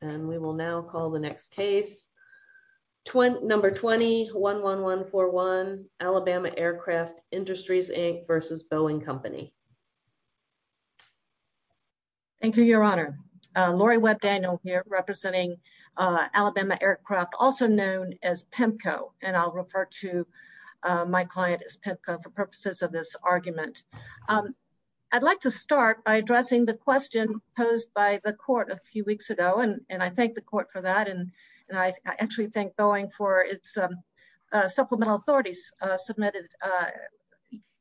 and we will now call the next case. Number 20-11141 Alabama Aircraft Industries Inc. versus Boeing Company. Thank you your honor. Lori Webb Daniel here representing Alabama Aircraft also known as PEMCO and I'll refer to my client as PEMCO for purposes of this argument. I'd like to start by I thank the court for that and I actually thank Boeing for its supplemental authorities submitted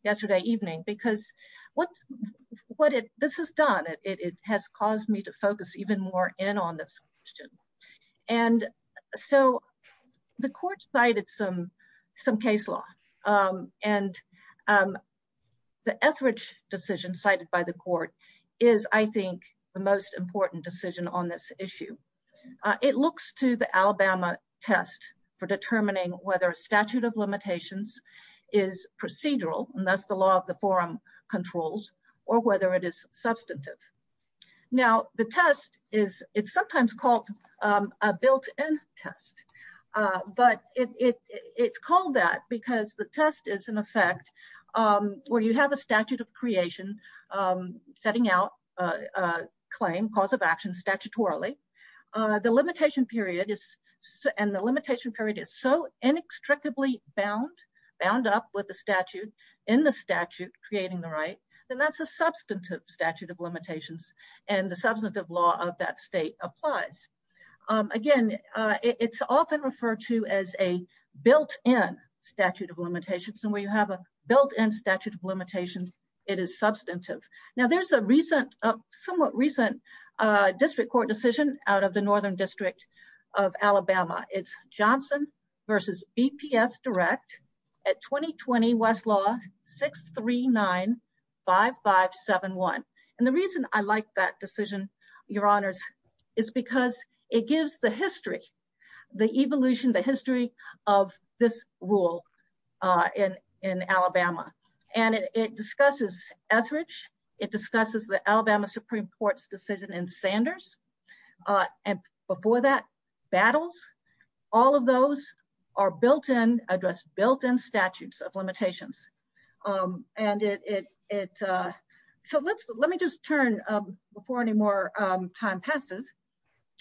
yesterday evening because what what it this has done it has caused me to focus even more in on this question and so the court cited some some case law and the Etheridge decision cited by the it looks to the Alabama test for determining whether a statute of limitations is procedural and thus the law of the forum controls or whether it is substantive. Now the test is it's sometimes called a built-in test but it it's called that because the test is in effect where you have a statute of limitations and the statute of limitations is a constitutional right of creation setting out a claim cause of action statutorily. The limitation period is and the limitation period is so inextricably bound bound up with the statute in the statute creating the right then that's a substantive statute of limitations and the substantive law of that state applies. Again it's often referred to as a built-in statute of limitations and where you have a built-in statute of limitations it is substantive. Now there's a recent somewhat recent district court decision out of the northern district of Alabama it's Johnson versus BPS direct at 2020 Westlaw 639-5571 and the reason I like that decision your honors is because it gives the history the evolution the history of this rule in in Alabama and it discusses Etheridge it discusses the Alabama Supreme Court's decision in Sanders and before that battles all of those are built in address built-in statutes of limitations and it so let's let me just turn before any more time passes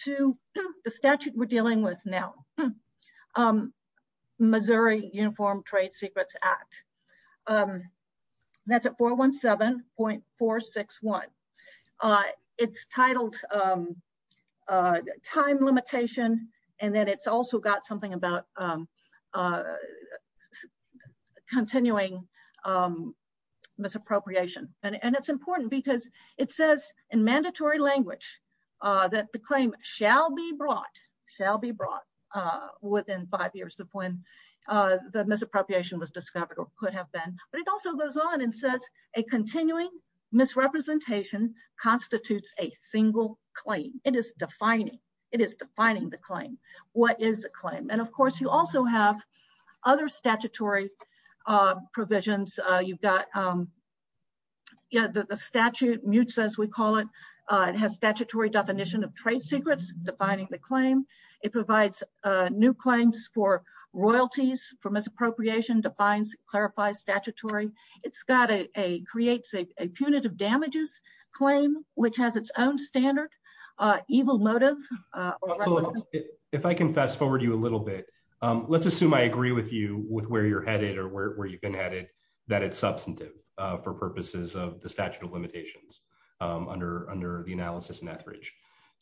to the statute we're dealing with now Missouri Uniform Trade Secrets Act that's at 417.461 it's titled time limitation and then it's also got something about continuing misappropriation and it's important because it says in mandatory language that the claim shall be brought shall be brought within five years of when the misappropriation was discovered or could have been but it also goes on and says a continuing misrepresentation constitutes a single claim it is defining it is defining the claim what is the claim and of course you also have other statutory provisions you've got yeah the statute mutes as we call it it has statutory definition of trade secrets defining the claim it provides new claims for royalties for misappropriation defines clarifies statutory it's got a creates a punitive damages claim which has its own standard evil motive if I can fast forward you a little bit let's assume I agree with you with where you're headed or where you've been headed that it's substantive for purposes of the statute of limitations under the analysis in Etheridge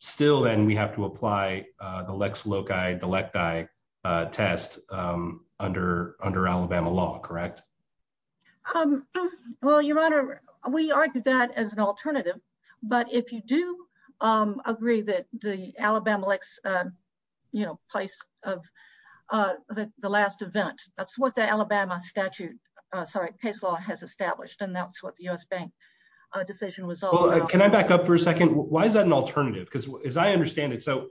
still then we have to apply the lex loci delecti test under Alabama law correct well your honor we argue that as an alternative but if you do agree that the Alabama lex you know place of the last event that's what Alabama statute sorry case law has established and that's what the U.S. bank decision was all can I back up for a second why is that an alternative because as I understand it so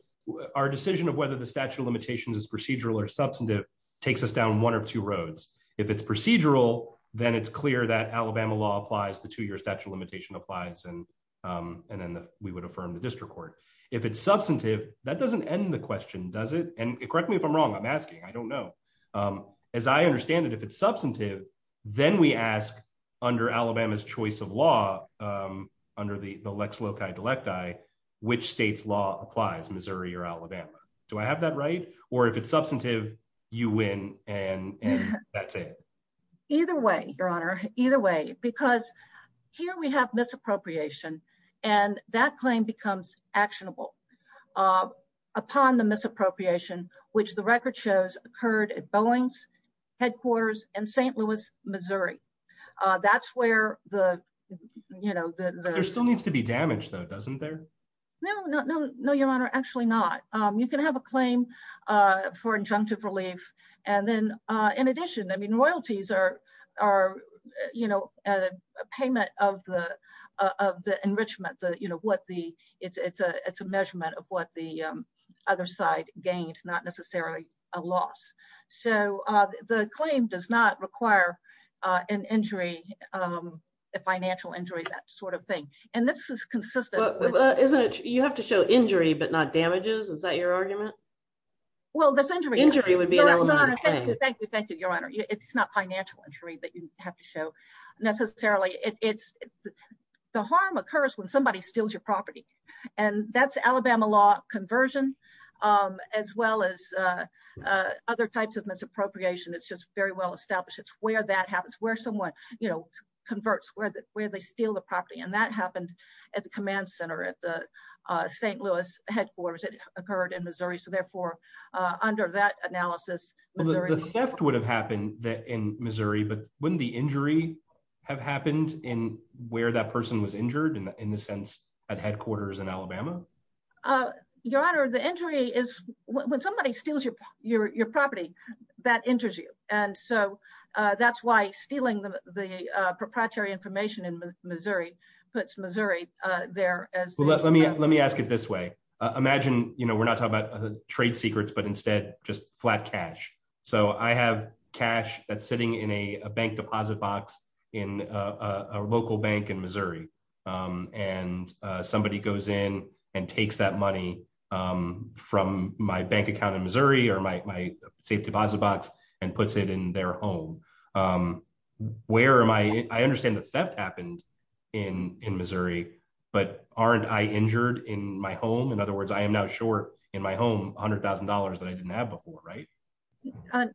our decision of whether the statute of limitations is procedural or substantive takes us down one of two roads if it's procedural then it's clear that Alabama law applies the two year statute limitation applies and and then we would affirm the district court if it's substantive that doesn't end the question does it and correct me if I'm wrong I'm asking I don't know as I understand it if it's substantive then we ask under Alabama's choice of law under the lex loci delecti which state's law applies Missouri or Alabama do I have that right or if it's substantive you win and and that's it either way your honor either way because here we have misappropriation and that claim becomes actionable upon the misappropriation which the record shows occurred at Boeing's headquarters in St. Louis Missouri that's where the you know there still needs to be damage though doesn't there no no no no your honor actually not you can have a claim for injunctive relief and then in addition I mean royalties are are you know a payment of the of the enrichment the you know what the it's it's a it's a a loss so uh the claim does not require uh an injury um a financial injury that sort of thing and this is consistent isn't it you have to show injury but not damages is that your argument well that's injury injury would be an element thank you thank you your honor it's not financial injury that you have to show necessarily it's the harm occurs when somebody steals your property and that's Alabama law conversion um as well as uh uh other types of misappropriation it's just very well established it's where that happens where someone you know converts where the where they steal the property and that happened at the command center at the uh St. Louis headquarters it occurred in Missouri so therefore uh under that analysis the theft would have happened that in Missouri but wouldn't the injury have happened in where that person was injured in the sense at headquarters in Alabama uh your honor the injury is when somebody steals your your property that injures you and so uh that's why stealing the the uh proprietary information in Missouri puts Missouri uh there as let me let me ask it this way imagine you know we're not talking about trade secrets but instead just flat cash so I have cash that's sitting in a bank deposit box in a local bank in Missouri um and uh somebody goes in and takes that money um from my bank account in Missouri or my safe deposit box and puts it in their home um where am I I understand the theft happened in in Missouri but aren't I injured in my home in other words I am now short in my home a hundred thousand dollars that I didn't have before right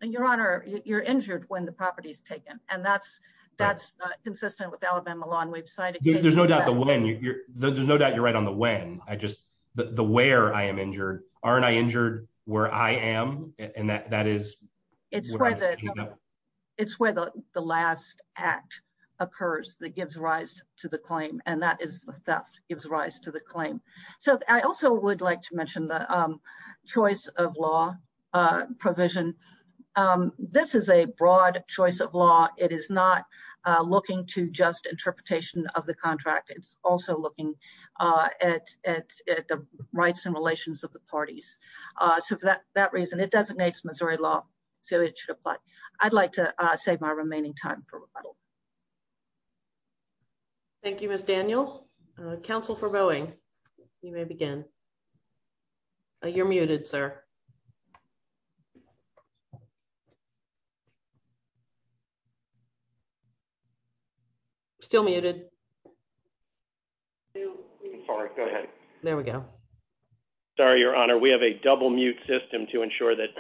your honor you're injured when the property is taken and that's that's consistent with Alabama law and we've cited there's no doubt the when you're there's no doubt you're right on the when I just the where I am injured aren't I injured where I am and that that is it's it's where the the last act occurs that gives rise to the claim and that is the theft gives rise to the claim so I also would like to law it is not uh looking to just interpretation of the contract it's also looking uh at at at the rights and relations of the parties uh so for that that reason it designates Missouri law so it should apply I'd like to uh save my remaining time for rebuttal thank you miss Daniel uh council for vowing you may begin you're muted sir still muted sorry go ahead there we go sorry your honor we have a double mute system to ensure that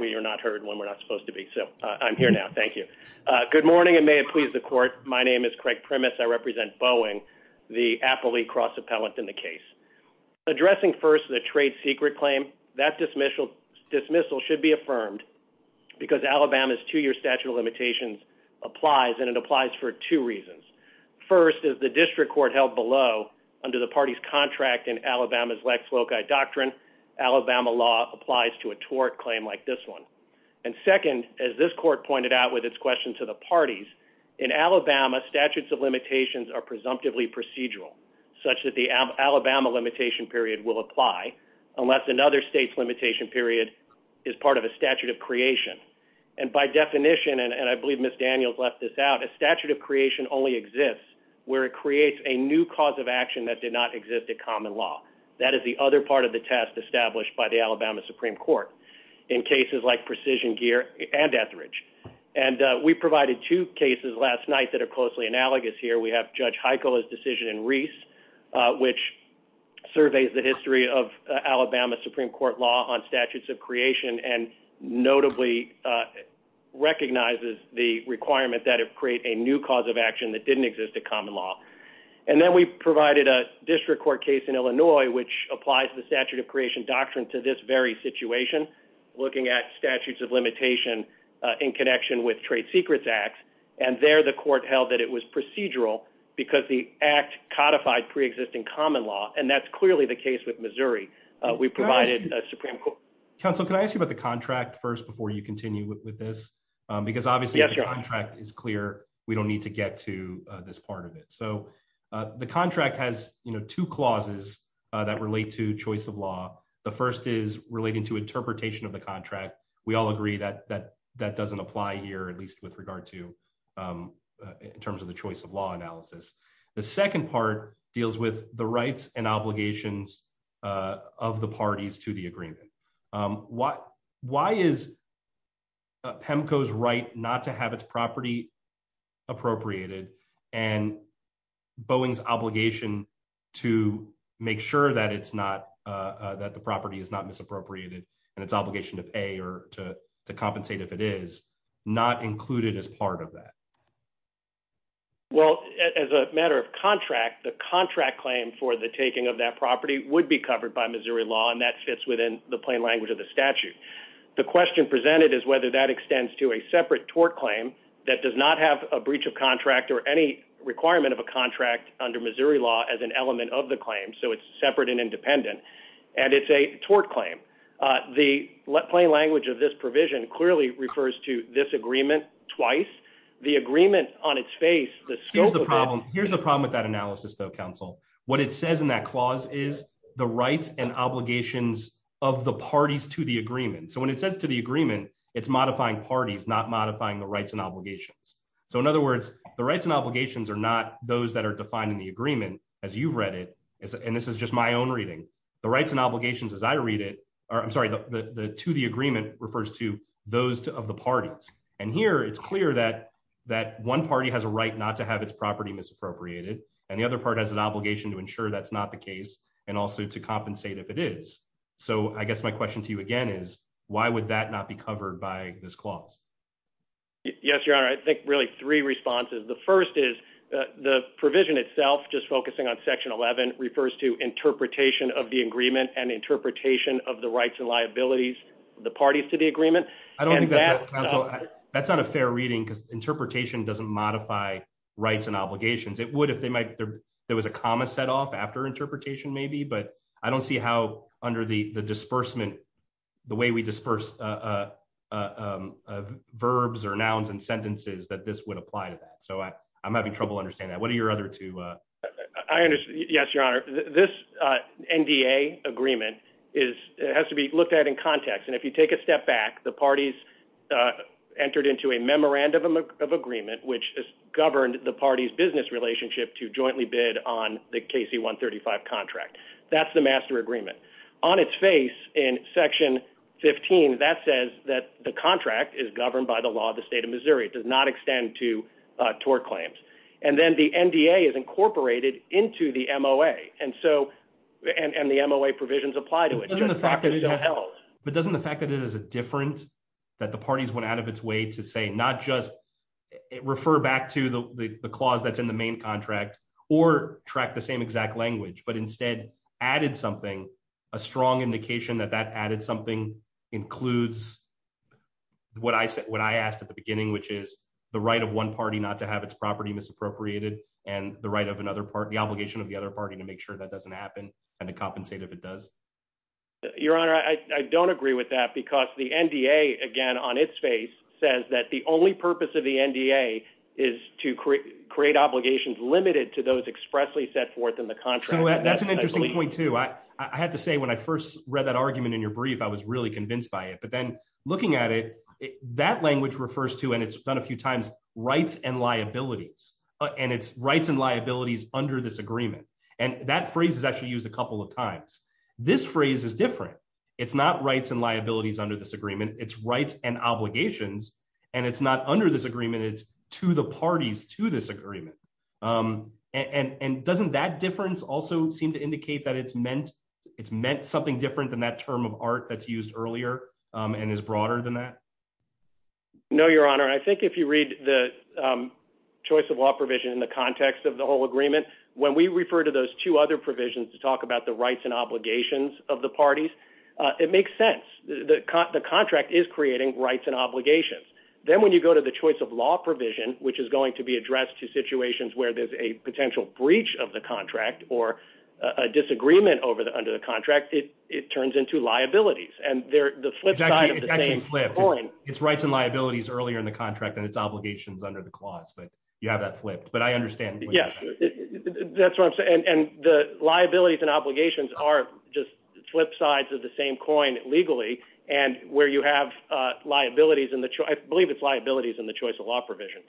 we are not heard when we're not supposed to be so I'm here now thank you uh good morning and may please the court my name is Craig premise I represent Boeing the appellee cross appellant in the case addressing first the trade secret claim that dismissal dismissal should be affirmed because Alabama's two-year statute of limitations applies and it applies for two reasons first is the district court held below under the party's contract in Alabama's Lex Loci doctrine Alabama law applies to a tort claim like this one and second as this court pointed out with its question to the parties in Alabama statutes of limitations are presumptively procedural such that the Alabama limitation period will apply unless another state's limitation period is part of a statute of creation and by definition and I believe miss Daniels left this out a statute of creation only exists where it creates a new cause of action that did not exist at common law that is the other part of the test established by the Alabama supreme court in cases like precision gear and and we provided two cases last night that are closely analogous here we have judge Heiko's decision in Reese which surveys the history of Alabama supreme court law on statutes of creation and notably recognizes the requirement that it create a new cause of action that didn't exist at common law and then we provided a district court case in Illinois which applies the statute of creation doctrine to this very situation looking at statutes of limitation in connection with trade secrets acts and there the court held that it was procedural because the act codified pre-existing common law and that's clearly the case with Missouri we provided a supreme court counsel can I ask you about the contract first before you continue with with this because obviously the contract is clear we don't need to get to this part of it so the contract has you know two clauses that relate to choice of law the first is relating to interpretation of the contract we all agree that that that doesn't apply here at least with regard to in terms of the choice of law analysis the second part deals with the rights and obligations of the parties to the agreement why why is PEMCO's right not to have its property appropriated and Boeing's obligation to make sure that it's not that the property is not misappropriated and its obligation to pay or to compensate if it is not included as part of that well as a matter of contract the contract claim for the taking of that property would be covered by Missouri law and that fits within the plain language of the statute the question presented is whether that extends to a separate tort claim that does not have a breach of contract or any requirement of a contract under Missouri law as an element of the claim so it's separate and independent and it's a tort claim the plain language of this provision clearly refers to this agreement twice the agreement on its face the scope of the problem here's the problem with that analysis though counsel what it says in that clause is the rights and obligations of the agreement it's modifying parties not modifying the rights and obligations so in other words the rights and obligations are not those that are defined in the agreement as you've read it and this is just my own reading the rights and obligations as I read it or I'm sorry the to the agreement refers to those of the parties and here it's clear that that one party has a right not to have its property misappropriated and the other part has an obligation to ensure that's not the case and also to compensate if it is so I guess my question to you again is why would that not be covered by this clause yes your honor I think really three responses the first is the provision itself just focusing on section 11 refers to interpretation of the agreement and interpretation of the rights and liabilities the parties to the agreement I don't think that that's not a fair reading because interpretation doesn't modify rights and obligations it would if they might there there was a comma set off after interpretation maybe but I don't see how under the disbursement the way we disperse verbs or nouns and sentences that this would apply to that so I I'm having trouble understanding that what are your other two I understand yes your honor this NDA agreement is it has to be looked at in context and if you take a step back the parties entered into a memorandum of agreement which is governed the party's business relationship to its face in section 15 that says that the contract is governed by the law of the state of Missouri it does not extend to uh tort claims and then the NDA is incorporated into the MOA and so and and the MOA provisions apply to it but doesn't the fact that it is a different that the parties went out of its way to say not just refer back to the the clause that's in the main or track the same exact language but instead added something a strong indication that that added something includes what I said what I asked at the beginning which is the right of one party not to have its property misappropriated and the right of another part the obligation of the other party to make sure that doesn't happen and to compensate if it does your honor I don't agree with that because the NDA again on its face says that the only purpose of the NDA is to create obligations limited to those expressly set forth in the contract that's an interesting point too I had to say when I first read that argument in your brief I was really convinced by it but then looking at it that language refers to and it's done a few times rights and liabilities and it's rights and liabilities under this agreement and that phrase is actually used a couple of times this phrase is different it's not rights and liabilities under this agreement it's rights and obligations and it's not under this agreement it's to the parties to this agreement and and doesn't that difference also seem to indicate that it's meant it's meant something different than that term of art that's used earlier and is broader than that no your honor I think if you read the choice of law provision in the context of the whole agreement when we refer to those two other provisions to talk about the rights and obligations of the parties it makes sense the the contract is creating rights and obligations then when you go to the choice of law provision which is going to be addressed to situations where there's a potential breach of the contract or a disagreement over the under the contract it it turns into liabilities and they're the flip side of the same coin it's rights and liabilities earlier in the contract and its obligations under the clause but you have that flipped but I understand yes that's what I'm and and the liabilities and obligations are just flip sides of the same coin legally and where you have uh liabilities in the I believe it's liabilities in the choice of law provision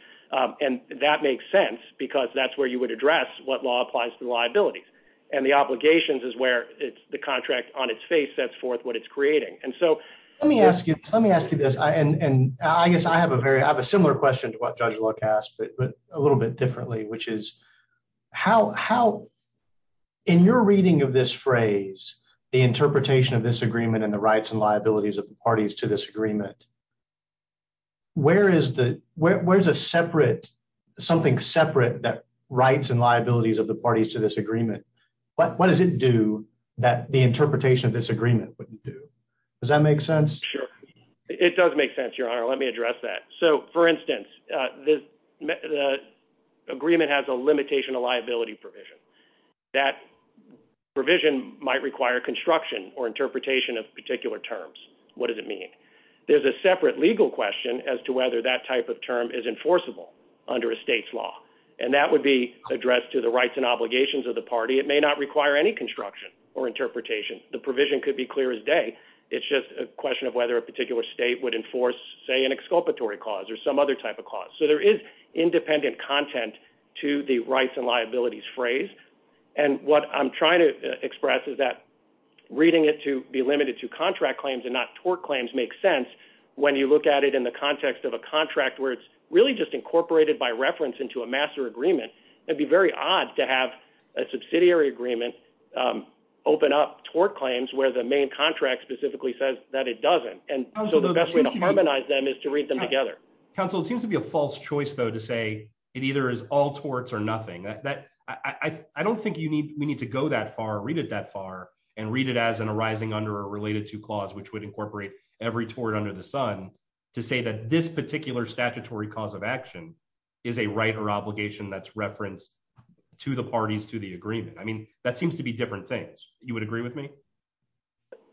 and that makes sense because that's where you would address what law applies to liabilities and the obligations is where it's the contract on its face sets forth what it's creating and so let me ask you let me ask you this I and and I guess I have a very I have a similar question to what Judge Luck asked but a little bit differently which is how how in your reading of this phrase the interpretation of this agreement and the rights and liabilities of the parties to this agreement where is the where's a separate something separate that rights and liabilities of the parties to this agreement what what does it do that the interpretation of this agreement wouldn't do does that make sense sure it does make sense your honor let me address that so for instance uh the the agreement has a limitation of liability provision that provision might require construction or interpretation of particular terms what does it mean there's a separate legal question as to whether that type of term is enforceable under a state's law and that would be addressed to the rights and obligations of the party it may not require any construction or interpretation the provision could be clear as day it's just a exculpatory cause or some other type of cause so there is independent content to the rights and liabilities phrase and what I'm trying to express is that reading it to be limited to contract claims and not tort claims makes sense when you look at it in the context of a contract where it's really just incorporated by reference into a master agreement it'd be very odd to have a subsidiary agreement um open up tort claims where the main contract specifically says that doesn't and so the best way to harmonize them is to read them together council it seems to be a false choice though to say it either is all torts or nothing that I I don't think you need we need to go that far read it that far and read it as an arising under a related to clause which would incorporate every tort under the sun to say that this particular statutory cause of action is a right or obligation that's referenced to the parties to the agreement I mean that seems to you would agree with me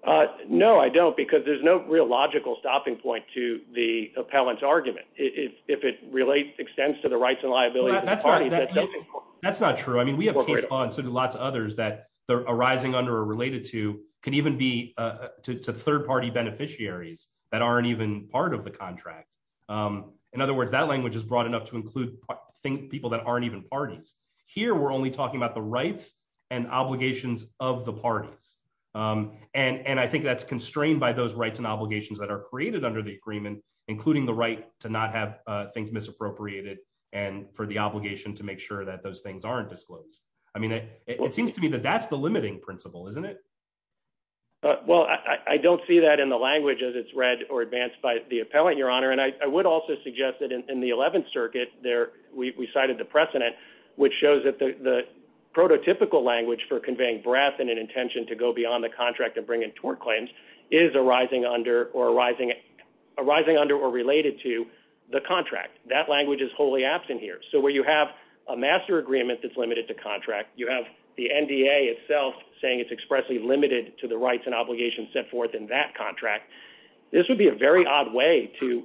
uh no I don't because there's no real logical stopping point to the appellant's argument it's if it relates extends to the rights and liabilities that's not true I mean we have case law and so do lots of others that they're arising under or related to can even be uh to third party beneficiaries that aren't even part of the contract um in other words that language is broad enough to include think people that aren't even parties here we're only talking about the rights and obligations of the parties um and and I think that's constrained by those rights and obligations that are created under the agreement including the right to not have uh things misappropriated and for the obligation to make sure that those things aren't disclosed I mean it seems to me that that's the limiting principle isn't it uh well I I don't see that in the language as it's read or advanced by the appellant your honor and I would also suggest that in the 11th circuit there we cited the precedent which shows that the the prototypical language for conveying breath and an intention to go beyond the contract and bring in tort claims is arising under or arising arising under or related to the contract that language is wholly absent here so where you have a master agreement that's limited to contract you have the NDA itself saying it's expressly limited to the rights and obligations set forth in that contract this would be a very odd way to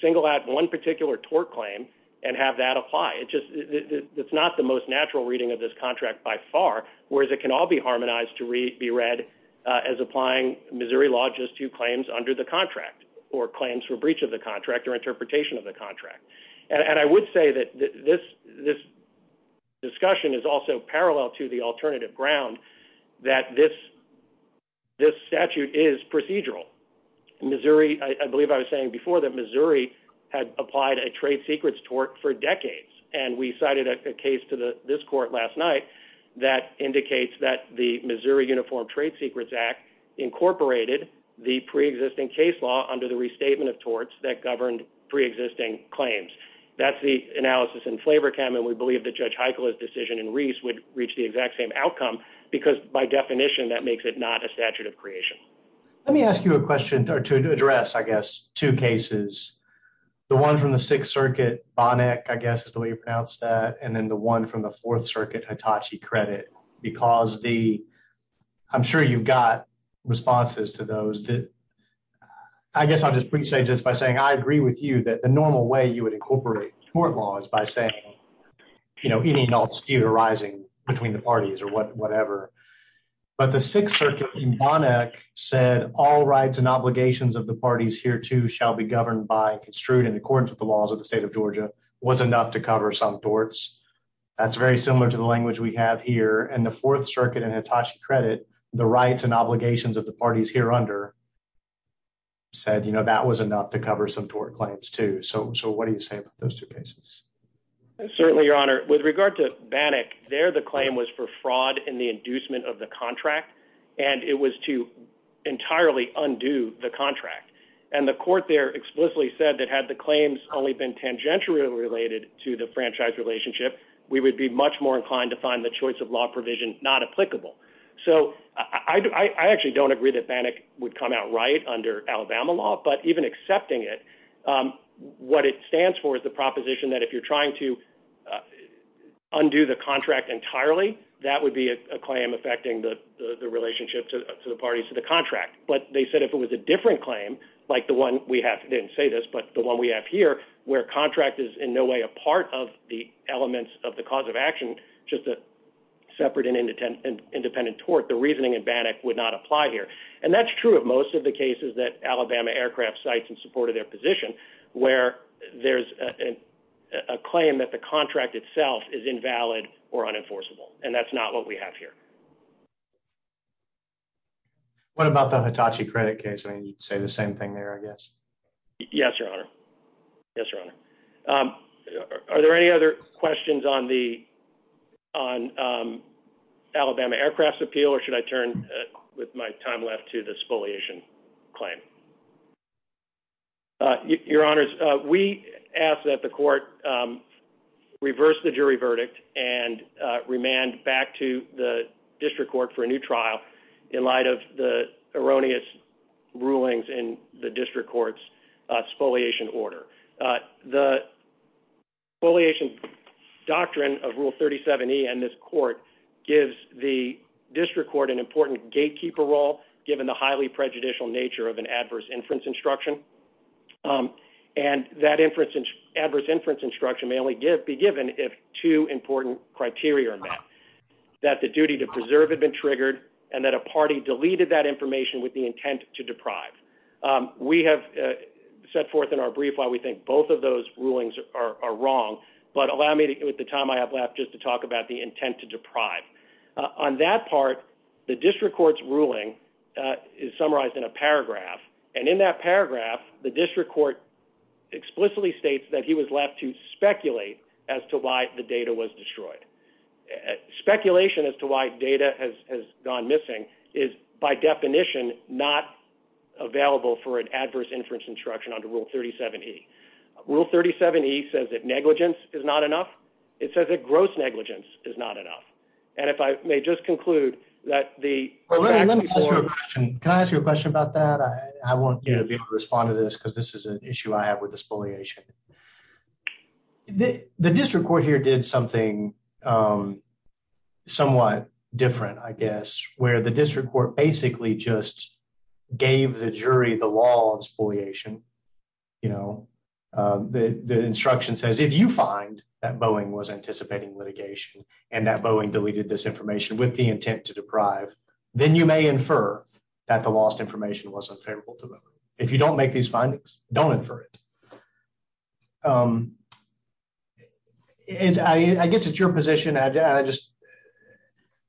single out one particular tort claim and have that apply it just it's not the most natural reading of this contract by far whereas it can all be harmonized to read be read uh as applying Missouri law just to claims under the contract or claims for breach of the contract or interpretation of the contract and I would say that this this discussion is also Missouri I believe I was saying before that Missouri had applied a trade secrets tort for decades and we cited a case to the this court last night that indicates that the Missouri Uniform Trade Secrets Act incorporated the pre-existing case law under the restatement of torts that governed pre-existing claims that's the analysis in Flavorchem and we believe that Judge Heichel's decision in Reese would reach the exact same outcome because by definition that or to address I guess two cases the one from the Sixth Circuit Bonnack I guess is the way you pronounce that and then the one from the Fourth Circuit Hitachi Credit because the I'm sure you've got responses to those that I guess I'll just pre-say just by saying I agree with you that the normal way you would incorporate tort law is by saying you know any non-spew arising between the parties or what whatever but the Sixth Circuit in Bonnack said all rights and obligations of the parties here too shall be governed by construed in accordance with the laws of the state of Georgia was enough to cover some torts that's very similar to the language we have here and the Fourth Circuit and Hitachi Credit the rights and obligations of the parties here under said you know that was enough to cover some tort claims too so so what do you say about those two cases certainly your honor with regard to Bannock there the claim was for fraud in the inducement of the contract and it was to entirely undo the contract and the court there explicitly said that had the claims only been tangentially related to the franchise relationship we would be much more inclined to find the choice of law provision not applicable so I actually don't agree that Bannock would come out right under Alabama law but even accepting it what it stands for is the proposition that if you're trying to undo the contract entirely that would be a claim affecting the the relationship to the parties to the contract but they said if it was a different claim like the one we have didn't say this but the one we have here where contract is in no way a part of the elements of the cause of action just a separate and independent independent tort the reasoning in Bannock would not apply here and that's true of most of the cases that Alabama aircraft sites in support of their position where there's a claim that the contract itself is invalid or unenforceable and that's not what we have here what about the Hitachi credit case I mean you'd say the same thing there I guess yes your honor yes your honor um are there any other questions on the on um Alabama aircrafts appeal or should I turn with my time left to the spoliation claim your honors we ask that the court reverse the jury verdict and remand back to the district court for a new trial in light of the erroneous rulings in the district court's spoliation order the spoliation doctrine of rule 37e and this court gives the district court an important gatekeeper role given the highly prejudicial nature of an adverse inference instruction and that inference adverse inference instruction may only give be given if two important criteria are met that the duty to preserve had been triggered and that a party deleted that information intent to deprive we have set forth in our brief why we think both of those rulings are wrong but allow me to at the time I have left just to talk about the intent to deprive on that part the district court's ruling is summarized in a paragraph and in that paragraph the district court explicitly states that he was left to speculate as to why the data was destroyed speculation as to why data has gone missing is by definition not available for an adverse inference instruction under rule 37e rule 37e says that negligence is not enough it says that gross negligence is not enough and if I may just conclude that the let me ask you a question can I ask you a question about that I I want you to be able to respond to this because this is an something somewhat different I guess where the district court basically just gave the jury the law of spoliation you know the the instruction says if you find that Boeing was anticipating litigation and that Boeing deleted this information with the intent to deprive then you may infer that the lost information was unfavorable to them if you don't make these is I guess it's your position I just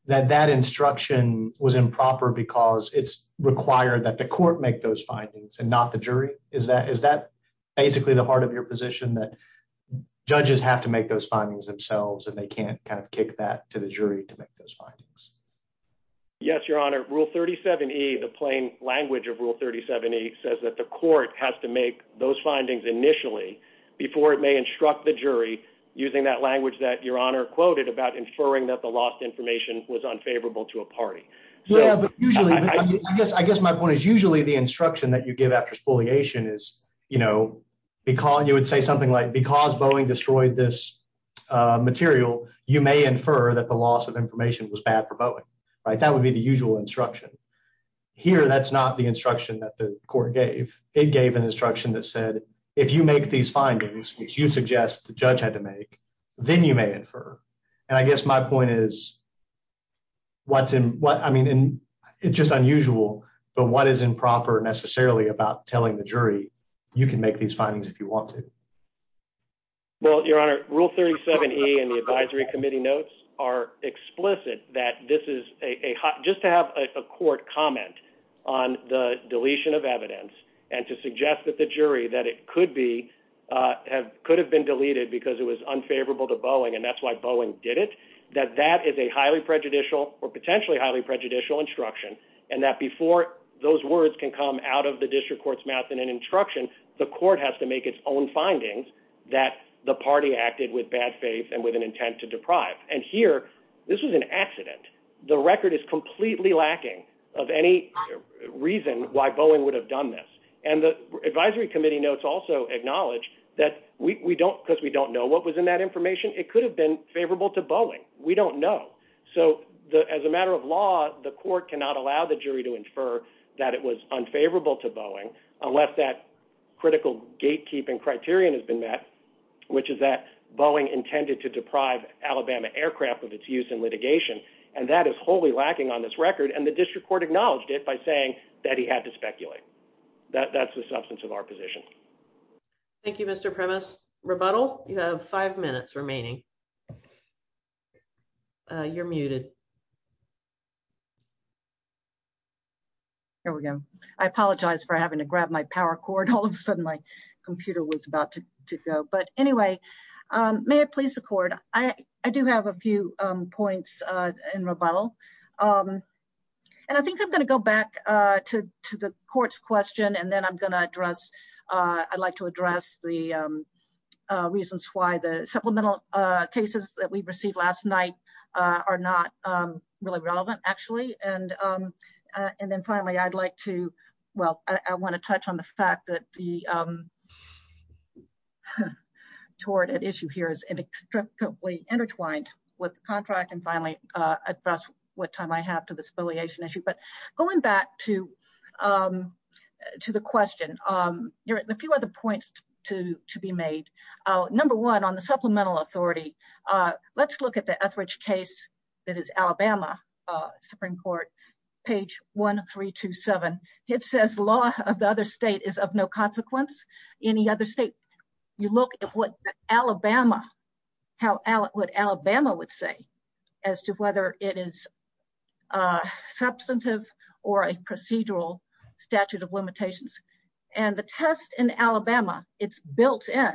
that that instruction was improper because it's required that the court make those findings and not the jury is that is that basically the heart of your position that judges have to make those findings themselves and they can't kind of kick that to the jury to make those findings yes your honor rule 37e the plain language of rule 37e says that the court has to make those findings initially before it may instruct the jury using that language that your honor quoted about inferring that the lost information was unfavorable to a party yeah but usually I guess I guess my point is usually the instruction that you give after spoliation is you know because you would say something like because Boeing destroyed this material you may infer that the loss of information was bad for Boeing right that would be the usual instruction here that's not the instruction that the court gave it gave an instruction that said if you make these findings which you suggest the judge had to make then you may infer and I guess my point is what's in what I mean in it's just unusual but what is improper necessarily about telling the jury you can make these findings if you want to well your honor rule 37e and the advisory committee notes are explicit that this is a hot just to have a court comment on the uh could have been deleted because it was unfavorable to Boeing and that's why Boeing did it that that is a highly prejudicial or potentially highly prejudicial instruction and that before those words can come out of the district court's mouth in an instruction the court has to make its own findings that the party acted with bad faith and with an intent to deprive and here this was an accident the record is completely lacking of any reason why that we we don't because we don't know what was in that information it could have been favorable to Boeing we don't know so the as a matter of law the court cannot allow the jury to infer that it was unfavorable to Boeing unless that critical gatekeeping criterion has been met which is that Boeing intended to deprive Alabama aircraft of its use in litigation and that is wholly lacking on this record and the district court acknowledged it by saying that he had to thank you mr premise rebuttal you have five minutes remaining you're muted there we go i apologize for having to grab my power cord all of a sudden my computer was about to to go but anyway um may it please the court i i do have a few um points uh in rebuttal um and i think i'm going to go back uh to to the court's question and then i'm going to address uh i'd like to address the um reasons why the supplemental uh cases that we received last night uh are not um really relevant actually and um and then finally i'd like to well i want to touch on the fact that the um toward an issue here is inextricably intertwined with the contract finally uh address what time i have to this affiliation issue but going back to um to the question um there are a few other points to to be made uh number one on the supplemental authority uh let's look at the ethridge case that is alabama uh supreme court page 1327 it says law of the other state is of no consequence any other state you look at what alabama how what alabama would say as to whether it is a substantive or a procedural statute of limitations and the test in alabama it's built in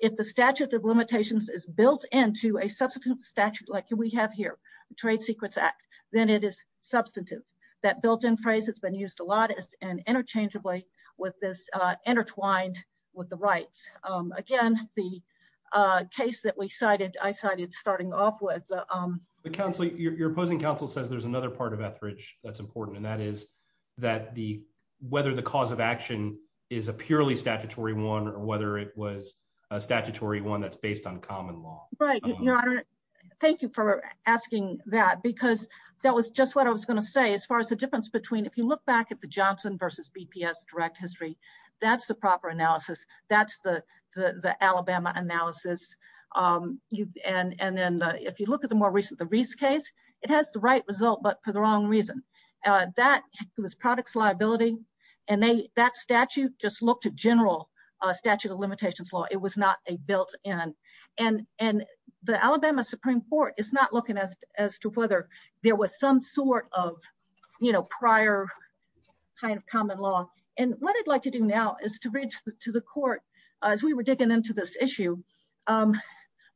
if the statute of limitations is built into a substantive statute like we have here trade secrets act then it is substantive that built-in phrase has been used a lot as and interchangeably with this uh intertwined with the rights um again the uh case that we starting off with um the council your opposing counsel says there's another part of ethridge that's important and that is that the whether the cause of action is a purely statutory one or whether it was a statutory one that's based on common law right your honor thank you for asking that because that was just what i was going to say as far as the difference between if you look back at the johnson versus bps direct history that's the proper analysis that's the the alabama analysis um you and and then if you look at the more recent the reese case it has the right result but for the wrong reason uh that was products liability and they that statute just looked at general uh statute of limitations law it was not a built-in and and the alabama supreme court is not looking as as to whether there was some sort of you know prior kind of common law and what i'd like to do now is to reach to the court as we were digging into this issue um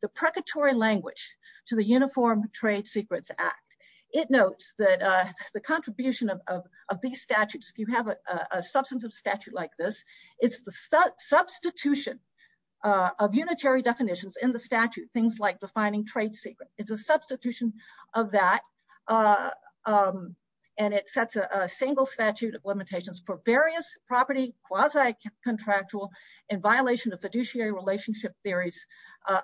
the precatory language to the uniform trade secrets act it notes that uh the contribution of of these statutes if you have a substantive statute like this it's the substitution of unitary definitions in the statute things like defining trade secret it's a substitution of that uh um and it sets a single statute of limitations for various property quasi-contractual in violation of fiduciary relationship theories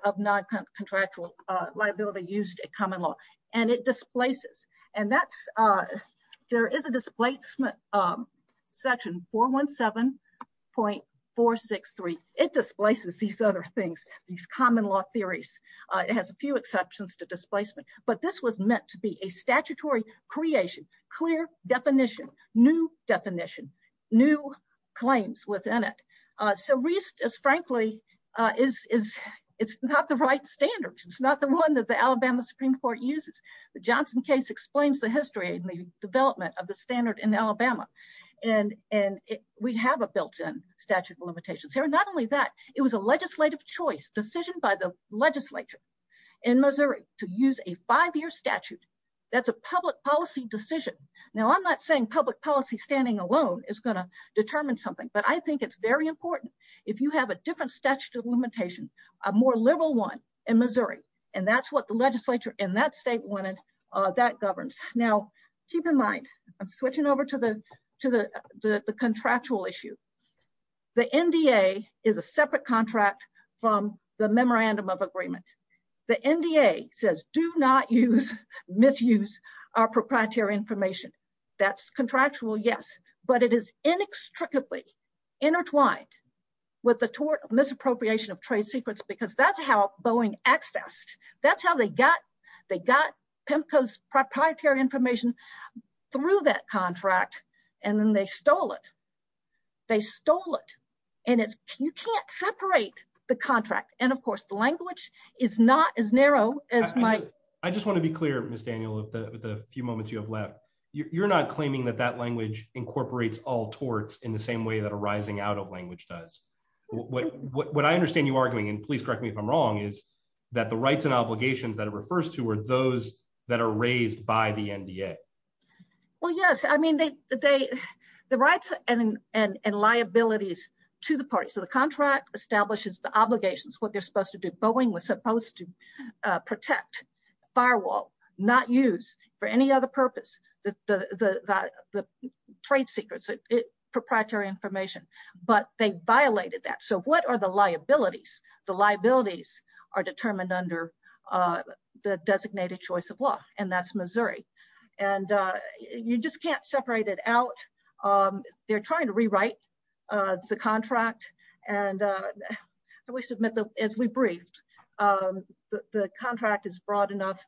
of non-contractual uh liability used at common law and it displaces and that's uh there is a displacement um section 417.463 it displaces these other things these common law theories uh it has a few exceptions to displacement but this was meant to be a statutory creation clear definition new definition new claims within it uh so reist is frankly uh is is it's not the right standards it's not the one that the alabama supreme court uses the johnson case explains the history and the development of the standard in alabama and and we have a built-in statute of limitations here not only that it was a legislative choice decision by the legislature in missouri to use a five-year statute that's a public policy decision now i'm not saying public policy standing alone is going to determine something but i think it's very important if you have a different statute of limitation a more liberal one in missouri and that's what the legislature in that state wanted uh that governs now keep in mind i'm switching over to the to the the contractual issue the nda is a separate contract from the memorandum of agreement the nda says do not use misuse our proprietary information that's contractual yes but it is inextricably intertwined with the tort misappropriation of trade secrets because that's how boeing accessed that's how they got they got pemco's proprietary information through that contract and then they stole it they stole it and it's you can't separate the is not as narrow as my i just want to be clear miss daniel with the few moments you have left you're not claiming that that language incorporates all torts in the same way that a rising out of language does what what i understand you arguing and please correct me if i'm wrong is that the rights and obligations that it refers to are those that are raised by the nda well yes i mean they they the rights and and liabilities to the party so the contract establishes the obligations what they're supposed to do boeing was supposed to protect firewall not use for any other purpose that the the the trade secrets it proprietary information but they violated that so what are the liabilities the liabilities are determined under uh the designated choice of law and that's missouri and uh you just can't separate it out um they're trying to rewrite uh the contract and uh we submit them as we briefed um the the contract is broad enough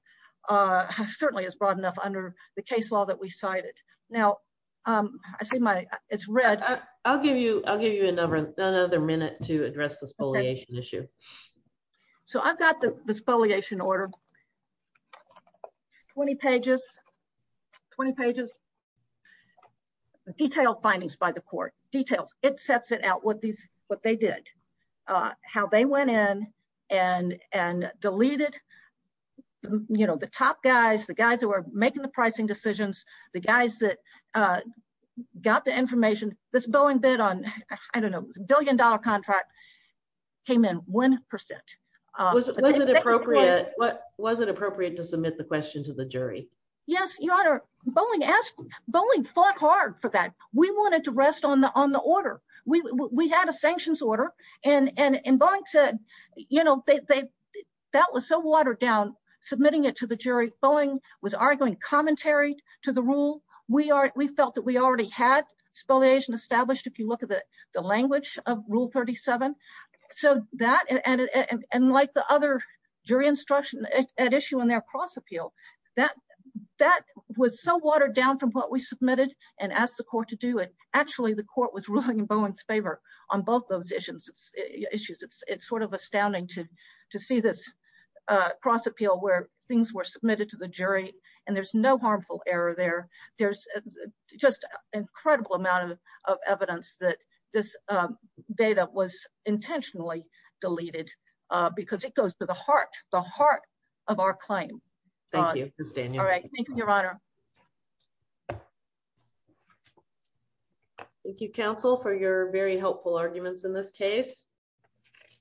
uh certainly is broad enough under the case law that we cited now um i see my it's red i'll give you i'll give you another another minute to address the spoliation issue so i've got the spoliation order 20 pages 20 pages detailed findings by the court details it sets it out what these what they did uh how they went in and and deleted you know the top guys the guys that were making the pricing decisions the guys that uh got the information this boeing bid on i don't know billion dollar contract came in one percent uh was it appropriate what was it appropriate to submit the question to the jury yes your honor boeing asked boeing fought hard for that we wanted to rest on the on the order we we had a sanctions order and and and boeing said you know they that was so watered down submitting it to the jury boeing was arguing commentary to the rule we are we felt that already had spoliation established if you look at the the language of rule 37 so that and and like the other jury instruction at issue in their cross appeal that that was so watered down from what we submitted and asked the court to do it actually the court was ruling in boeing's favor on both those issues issues it's it's sort of astounding to to see this uh cross appeal where things were submitted to the jury and there's no harmful error there there's just an incredible amount of evidence that this uh data was intentionally deleted uh because it goes to the heart the heart of our claim thank you all right thank you your honor thank you counsel for your very helpful arguments in this case